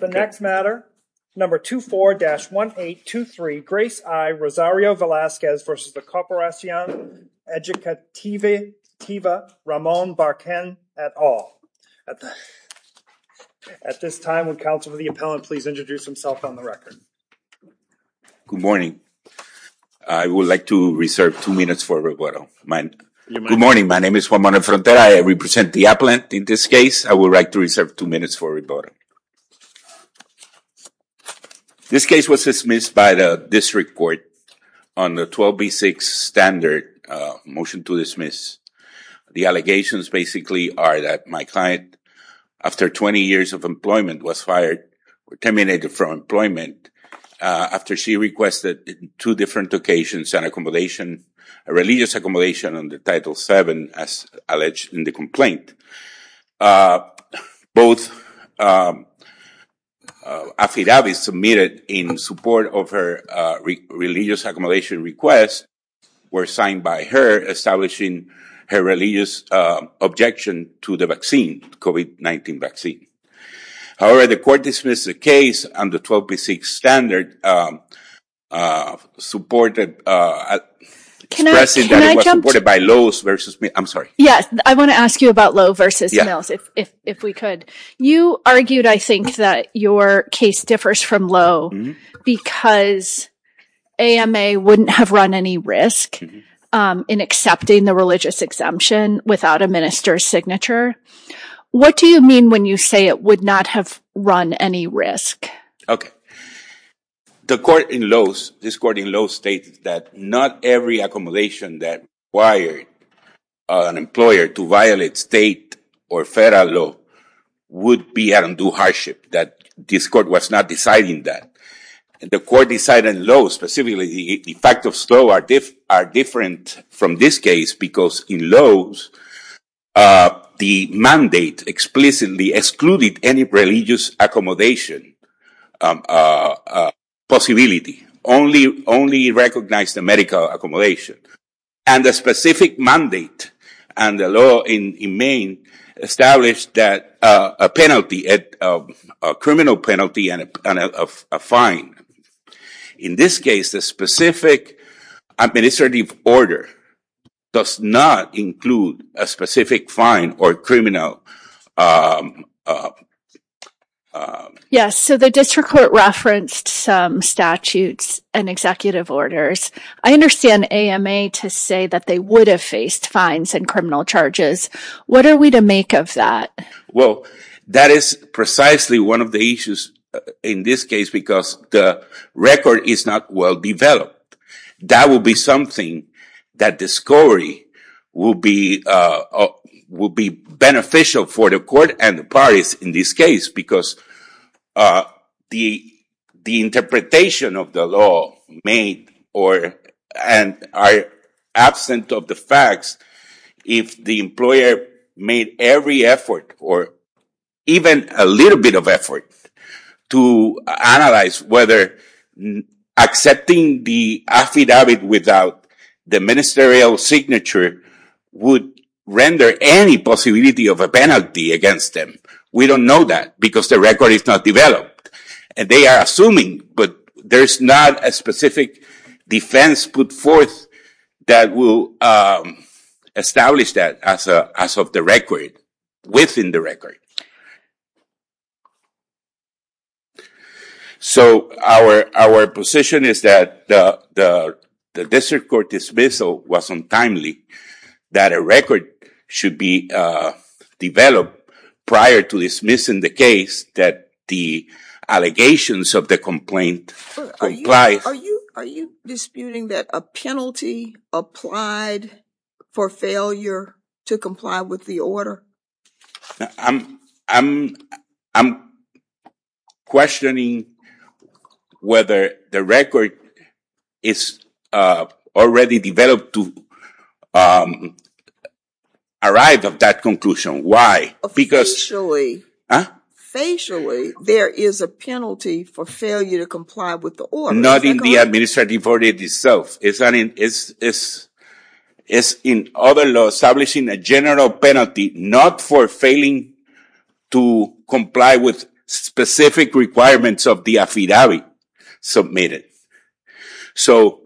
The next matter, number 24-1823, Grace I. Rosario-Velazquez versus the Corporacion Educativa Ramon Barquin, et al. At this time, would counsel for the appellant please introduce himself on the record. Good morning. I would like to reserve two minutes for rebuttal. Good morning. My name is Juan Manuel Frontera. I represent the appellant in this case. I would like to reserve two minutes for rebuttal. This case was dismissed by the district court on the 12B6 standard motion to dismiss. The allegations basically are that my client, after 20 years of employment, was fired or terminated from employment after she requested two different occasions and accommodation, a religious accommodation under Title VII as alleged in the complaint. Both affidavits submitted in support of her religious accommodation request were signed by her, establishing her religious objection to the vaccine, COVID-19 vaccine. However, the court dismissed the case on the 12B6 standard, supported by Lowe's versus, I'm sorry. Yes, I want to ask you about Lowe's versus Mills, if we could. You argued, I think, that your case differs from Lowe's because AMA wouldn't have run any risk in accepting the religious exemption without a minister's signature. What do you mean when you say it would not have run any risk? Okay. The court in Lowe's, this court in Lowe's stated that not every accommodation that required an employer to violate state or federal law would be at undue hardship, that this court was not deciding that. The court decided in Lowe's, specifically, the fact of Lowe's are different from this case because in Lowe's, the mandate explicitly excluded any religious accommodation possibility, only recognized the medical accommodation. And the specific mandate and the law in Maine established that a penalty, a criminal penalty and a fine. In this case, the specific administrative order does not include a specific fine or criminal... Yes, so the district court referenced some statutes and executive orders. I understand AMA to say that they would have faced fines and criminal charges. What are we to make of that? Well, that is precisely one of the issues in this case because the record is not well developed. That would be something that the score would be beneficial for the court and the parties in this case because the interpretation of the law made or are absent of the facts. If the employer made every effort or even a little bit of effort to analyze whether accepting the affidavit without the ministerial signature would render any possibility of a penalty against them. We don't know that because the record is not developed. And they are assuming, but there is not a specific defense put forth that will establish that as of the record, within the record. So, our position is that the district court dismissal was untimely, that a record should be developed prior to dismissing the case that the allegations of the complaint complies. Are you disputing that a penalty applied for failure to comply with the order? I'm questioning whether the record is already developed to arrive at that conclusion. Why? Facially, there is a penalty for failure to comply with the order. Not in the administrative order itself. It's in other laws establishing a general penalty not for failing to comply with specific requirements of the affidavit submitted. So,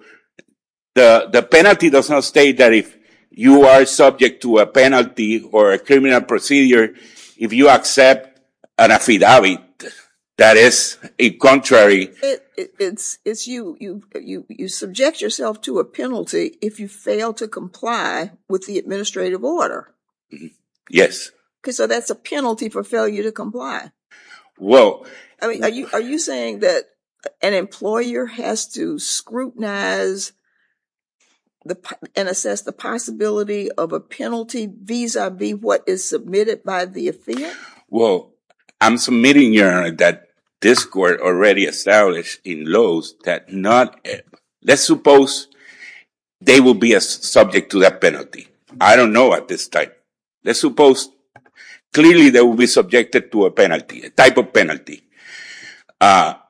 the penalty does not state that if you are subject to a penalty or a criminal procedure, if you accept an affidavit that is a contrary. It's you. You subject yourself to a penalty if you fail to comply with the administrative order. Yes. So, that's a penalty for failure to comply. Are you saying that an employer has to scrutinize and assess the possibility of a penalty vis-a-vis what is submitted by the affidavit? Well, I'm submitting, Your Honor, that this Court already established in laws that not... Let's suppose they will be subject to that penalty. I don't know at this time. Let's suppose clearly they will be subjected to a penalty, a type of penalty. I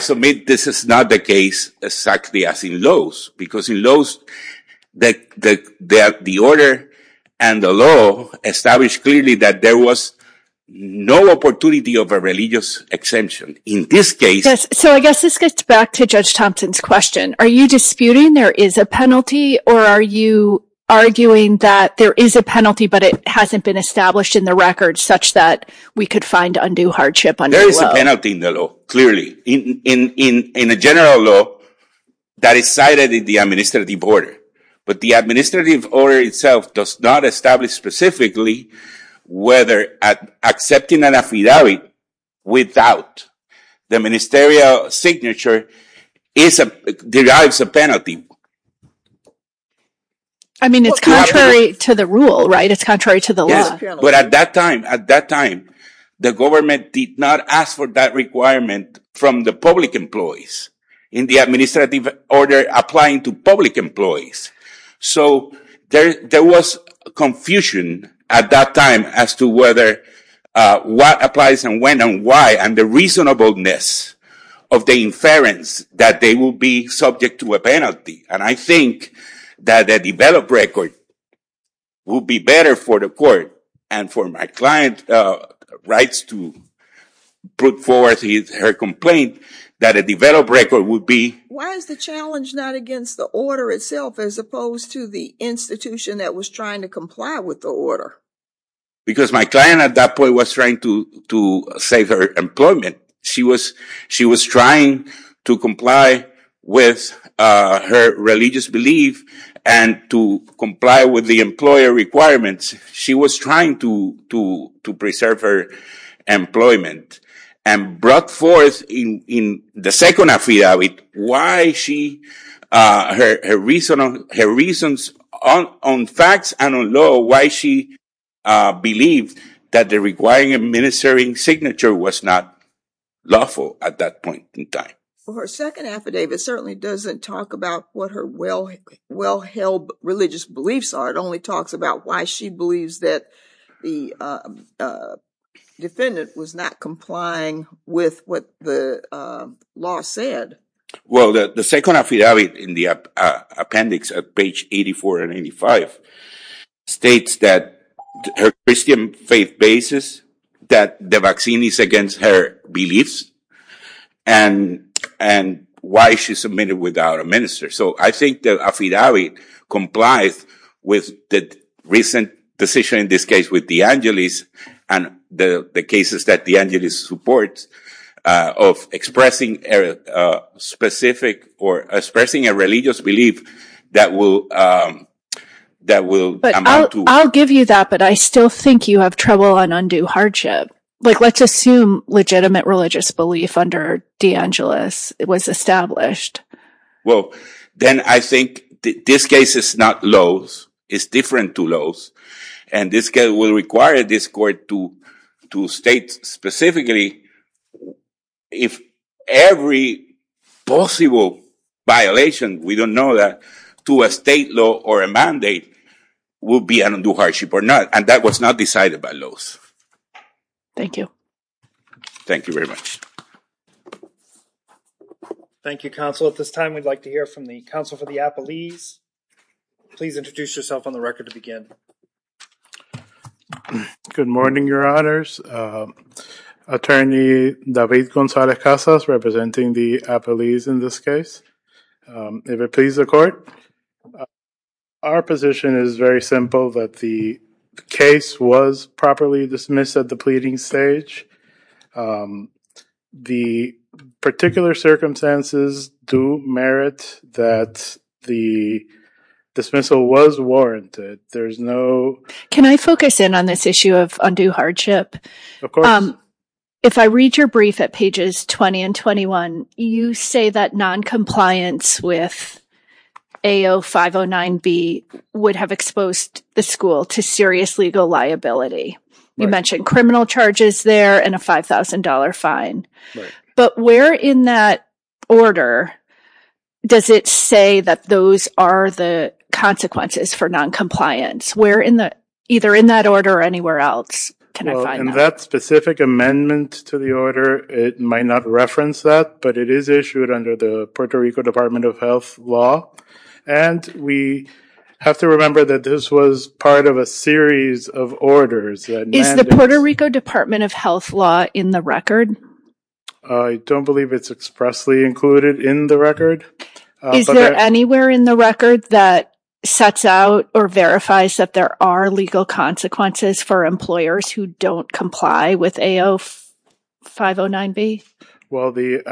submit this is not the case exactly as in laws. Because in laws, the order and the law establish clearly that there was no opportunity of a religious exemption. In this case... So, I guess this gets back to Judge Thompson's question. Are you disputing there is a penalty or are you arguing that there is a penalty but it hasn't been established in the record such that we could find undue hardship under the law? There is a penalty in the law, clearly. In the general law, that is cited in the administrative order. But the administrative order itself does not establish specifically whether accepting an affidavit without the ministerial signature derives a penalty. I mean, it's contrary to the rule, right? It's contrary to the law. But at that time, the government did not ask for that requirement from the public employees in the administrative order applying to public employees. So, there was confusion at that time as to whether what applies and when and why and the reasonableness of the inference that they will be subject to a penalty. And I think that a developed record would be better for the court and for my client's rights to put forth her complaint that a developed record would be... Why is the challenge not against the order itself as opposed to the institution that was trying to comply with the order? Because my client at that point was trying to save her employment. She was trying to comply with her religious belief and to comply with the employer requirements. She was trying to preserve her employment and brought forth in the second affidavit her reasons on facts and on law why she believed that the requiring ministerial signature was not lawful at that point in time. Her second affidavit certainly doesn't talk about what her well-held religious beliefs are. It only talks about why she believes that the defendant was not complying with what the law said. Well, the second affidavit in the appendix at page 84 and 85 states that her Christian faith bases that the vaccine is against her beliefs and why she submitted without a minister. So, I think the affidavit complies with the recent decision in this case with De Angelis and the cases that De Angelis supports of expressing a religious belief that will amount to... I'll give you that, but I still think you have trouble on undue hardship. Let's assume legitimate religious belief under De Angelis was established. Well, then I think this case is not laws. It's different to laws. And this case will require this court to state specifically if every possible violation, we don't know that, to a state law or a mandate will be an undue hardship or not. And that was not decided by laws. Thank you. Thank you very much. Thank you, Counsel. At this time, we'd like to hear from the Counsel for the Appellees. Please introduce yourself on the record to begin. Good morning, Your Honors. Attorney David Gonzalez-Casas representing the appellees in this case. If it pleases the court, our position is very simple that the case was properly dismissed at the pleading stage. The particular circumstances do merit that the dismissal was warranted. Can I focus in on this issue of undue hardship? Of course. If I read your brief at pages 20 and 21, you say that noncompliance with AO509B would have exposed the school to serious legal liability. You mentioned criminal charges there and a $5,000 fine. But where in that order does it say that those are the consequences for noncompliance? Either in that order or anywhere else, can I find that? In that specific amendment to the order, it might not reference that, but it is issued under the Puerto Rico Department of Health law. And we have to remember that this was part of a series of orders. Is the Puerto Rico Department of Health law in the record? I don't believe it's expressly included in the record. Is there anywhere in the record that sets out or verifies that there are legal consequences for employers who don't comply with AO509B? Well, the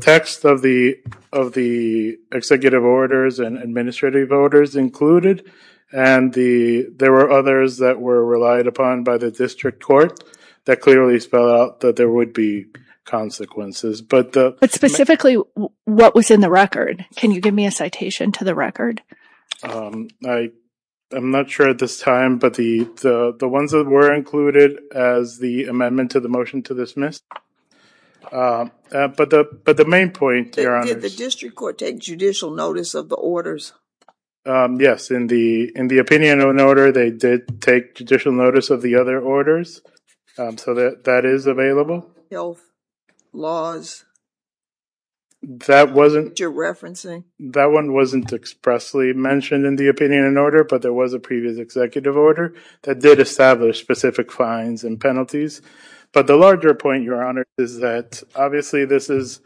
text of the executive orders and administrative orders included, and there were others that were relied upon by the district court that clearly spelled out that there would be consequences. But specifically, what was in the record? Can you give me a citation to the record? I'm not sure at this time, but the ones that were included as the amendment to the motion to dismiss. But the main point... Did the district court take judicial notice of the orders? Yes, in the opinion of an order, they did take judicial notice of the other orders. So, that is available. Health laws that you're referencing? That one wasn't expressly mentioned in the opinion of an order, but there was a previous executive order that did establish specific fines and penalties. But the larger point, Your Honor, is that obviously this is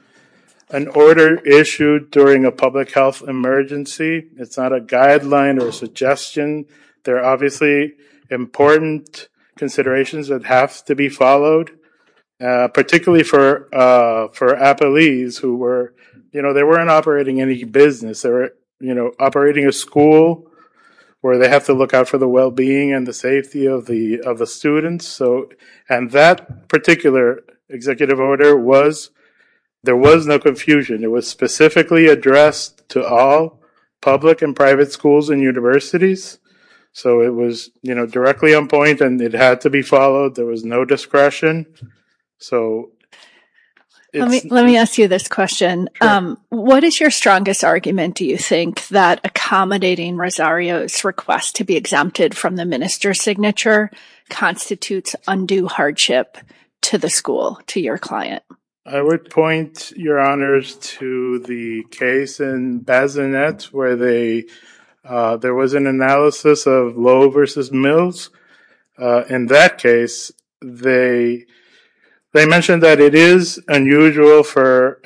an order issued during a public health emergency. It's not a guideline or suggestion. There are obviously important considerations that have to be followed. Particularly for appellees who weren't operating any business. They were operating a school where they have to look out for the well-being and the safety of the students. And that particular executive order was... There was no confusion. It was specifically addressed to all public and private schools and universities. So, it was directly on point and it had to be followed. There was no discretion. So... Let me ask you this question. What is your strongest argument, do you think, that accommodating Rosario's request to be exempted from the minister's signature constitutes undue hardship to the school, to your client? I would point, Your Honors, to the case in Bazinet where there was an analysis of Lowe v. Mills. In that case, they mentioned that it is unusual for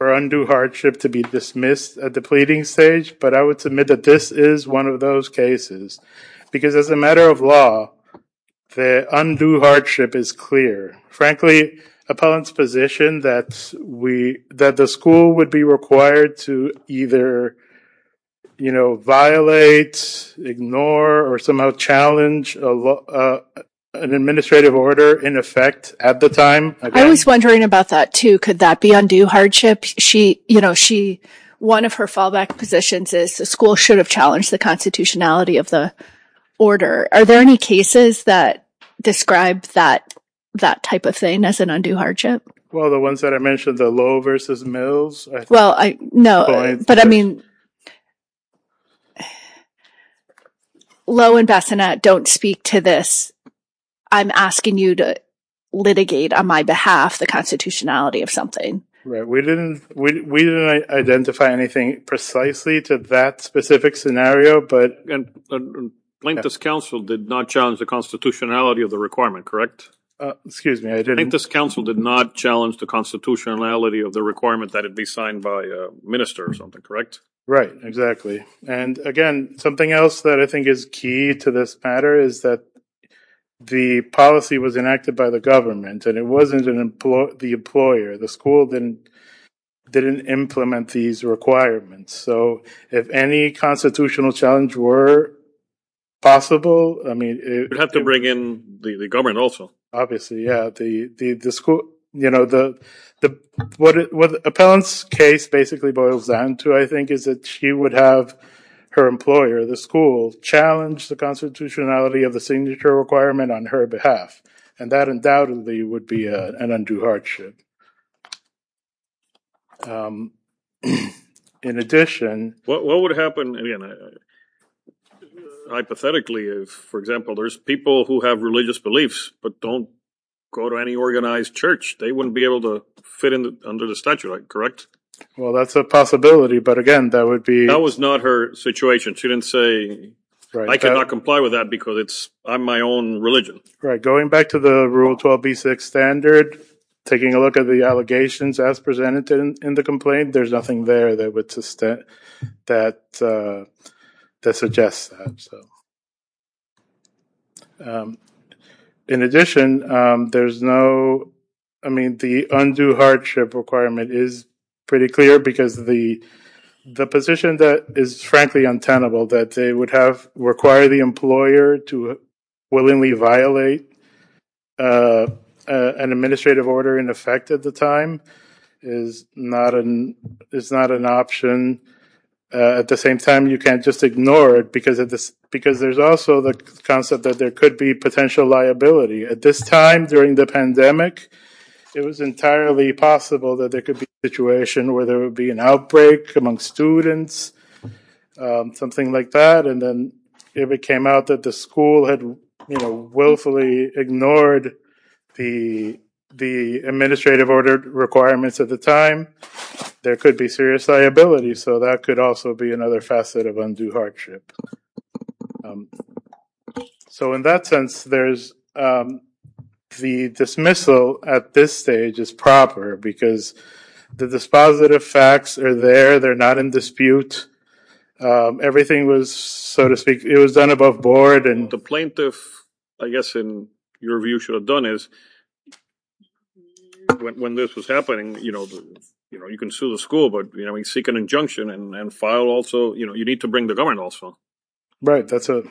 undue hardship to be dismissed at the pleading stage. But I would submit that this is one of those cases. Because as a matter of law, the undue hardship is clear. Frankly, appellant's position that the school would be required to either violate, ignore, or somehow challenge an administrative order in effect at the time... I was wondering about that, too. Could that be undue hardship? One of her fallback positions is the school should have challenged the constitutionality of the order. Are there any cases that describe that type of thing as an undue hardship? Well, the ones that I mentioned, the Lowe v. Mills... No, but I mean... Lowe and Bazinet don't speak to this. I'm asking you to litigate on my behalf the constitutionality of something. We didn't identify anything precisely to that specific scenario, but... Plaintiffs' counsel did not challenge the constitutionality of the requirement, correct? Plaintiffs' counsel did not challenge the constitutionality of the requirement that it be signed by a minister or something, correct? Right, exactly. And again, something else that I think is key to this matter is that the policy was enacted by the government and it wasn't the employer. The school didn't implement these requirements. So, if any constitutional challenge were possible... You'd have to bring in the government also. Obviously, yeah. What Appellant's case basically boils down to, I think, is that she would have her employer, the school, challenge the constitutionality of the signature requirement on her behalf. And that undoubtedly would be an undue hardship. In addition... What would happen... Hypothetically, for example, there's people who have religious beliefs but don't go to any organized church. They wouldn't be able to fit under the statute, correct? Well, that's a possibility, but again, that would be... That was not her situation. She didn't say, I cannot comply with that because I'm my own religion. Right, going back to the Rule 12b6 standard, taking a look at the allegations as presented in the complaint, there's nothing there that would suggest that. In addition, there's no... I mean, the undue hardship requirement is pretty clear because the position that is frankly untenable, that they would require the employer to willingly violate an administrative order in effect at the time, is not an option. At the same time, you can't just ignore it because there's also the concept that there could be potential liability. At this time, during the pandemic, it was entirely possible that there could be a situation where there would be an outbreak among students, something like that, and then if it came out that the school had willfully ignored the administrative order requirements at the time, there could be serious liability. So that could also be another facet of undue hardship. So in that sense, the dismissal at this stage is proper because the dispositive facts are there, they're not in dispute, everything was, so to speak, it was done above board. The plaintiff, I guess in your view, should have done is when this was happening, you can sue the school, but you can seek an injunction and file also, you need to bring the government also. Right, that's a...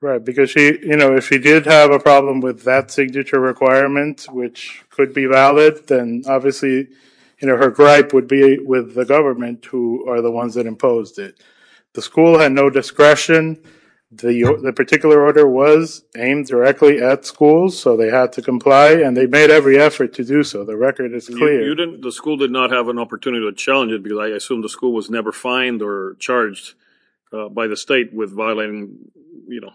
Right, because if she did have a problem with that signature requirement which could be valid, then obviously her gripe would be with the government who are the ones that imposed it. The school had no discretion, the particular order was aimed directly at schools, so they had to comply and they made every effort to do so, the record is clear. The school did not have an opportunity to challenge it because I assume the school was never fined or charged by the state with violating, you know...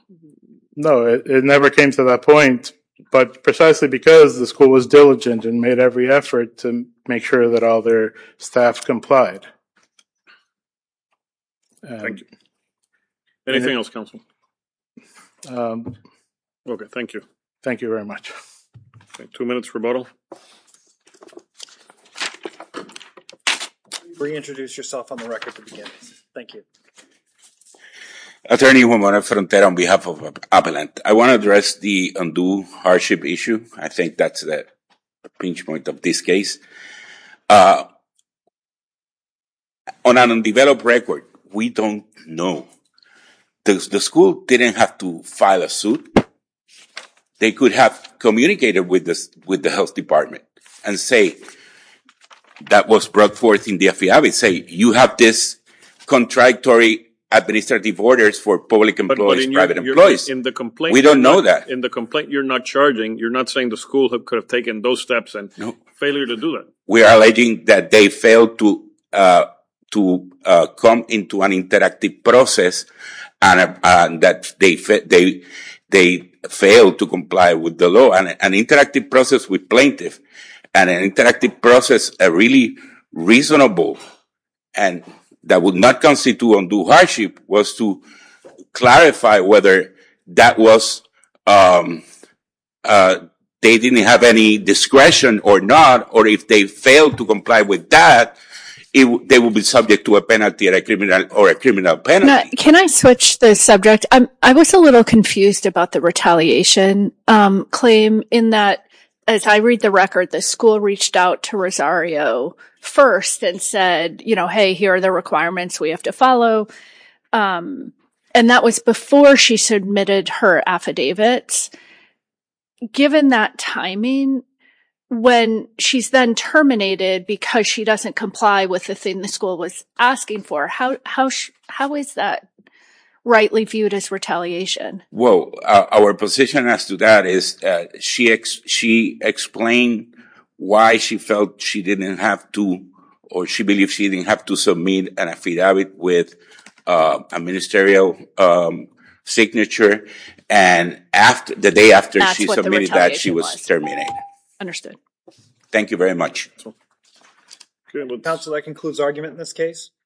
No, it never came to that point, but precisely because the school was diligent and made every effort to make sure that all their staff complied. Thank you. Anything else, counsel? Okay, thank you. Thank you very much. Two minutes rebuttal. Reintroduce yourself on the record at the beginning. Thank you. Attorney Juan Mora Frontera on behalf of Avalanche, I want to address the undue hardship issue, I think that's the pinch point of this case. On an undeveloped record, we don't know. The school didn't have to file a suit, they could have communicated with the health department and say that was brought forth in the FBI, say you have this contractory administrative orders for public employees, private employees. We don't know that. In the complaint you're not charging, you're not saying the school could have taken those steps and failure to do that. We are alleging that they failed to come into an interactive process and that they failed to comply with the law. An interactive process with plaintiffs and an interactive process really reasonable and that would not constitute undue hardship was to clarify whether that was they didn't have any discretion or not or if they failed to comply with that they would be subject to a penalty or a criminal penalty. Can I switch the subject? I was a little confused about the retaliation claim in that as I read the record the school reached out to Rosario first and said hey here are the requirements we have to follow and that was before she submitted her affidavits. Given that timing when she's then terminated because she doesn't comply with the thing the school was asking for how is that rightly viewed as retaliation? Well our position as to that is she explained why she felt she didn't have to or she believed she didn't have to a ministerial signature and the day after she submitted that she was terminated. Understood. Thank you very much. Council that concludes argument in this case.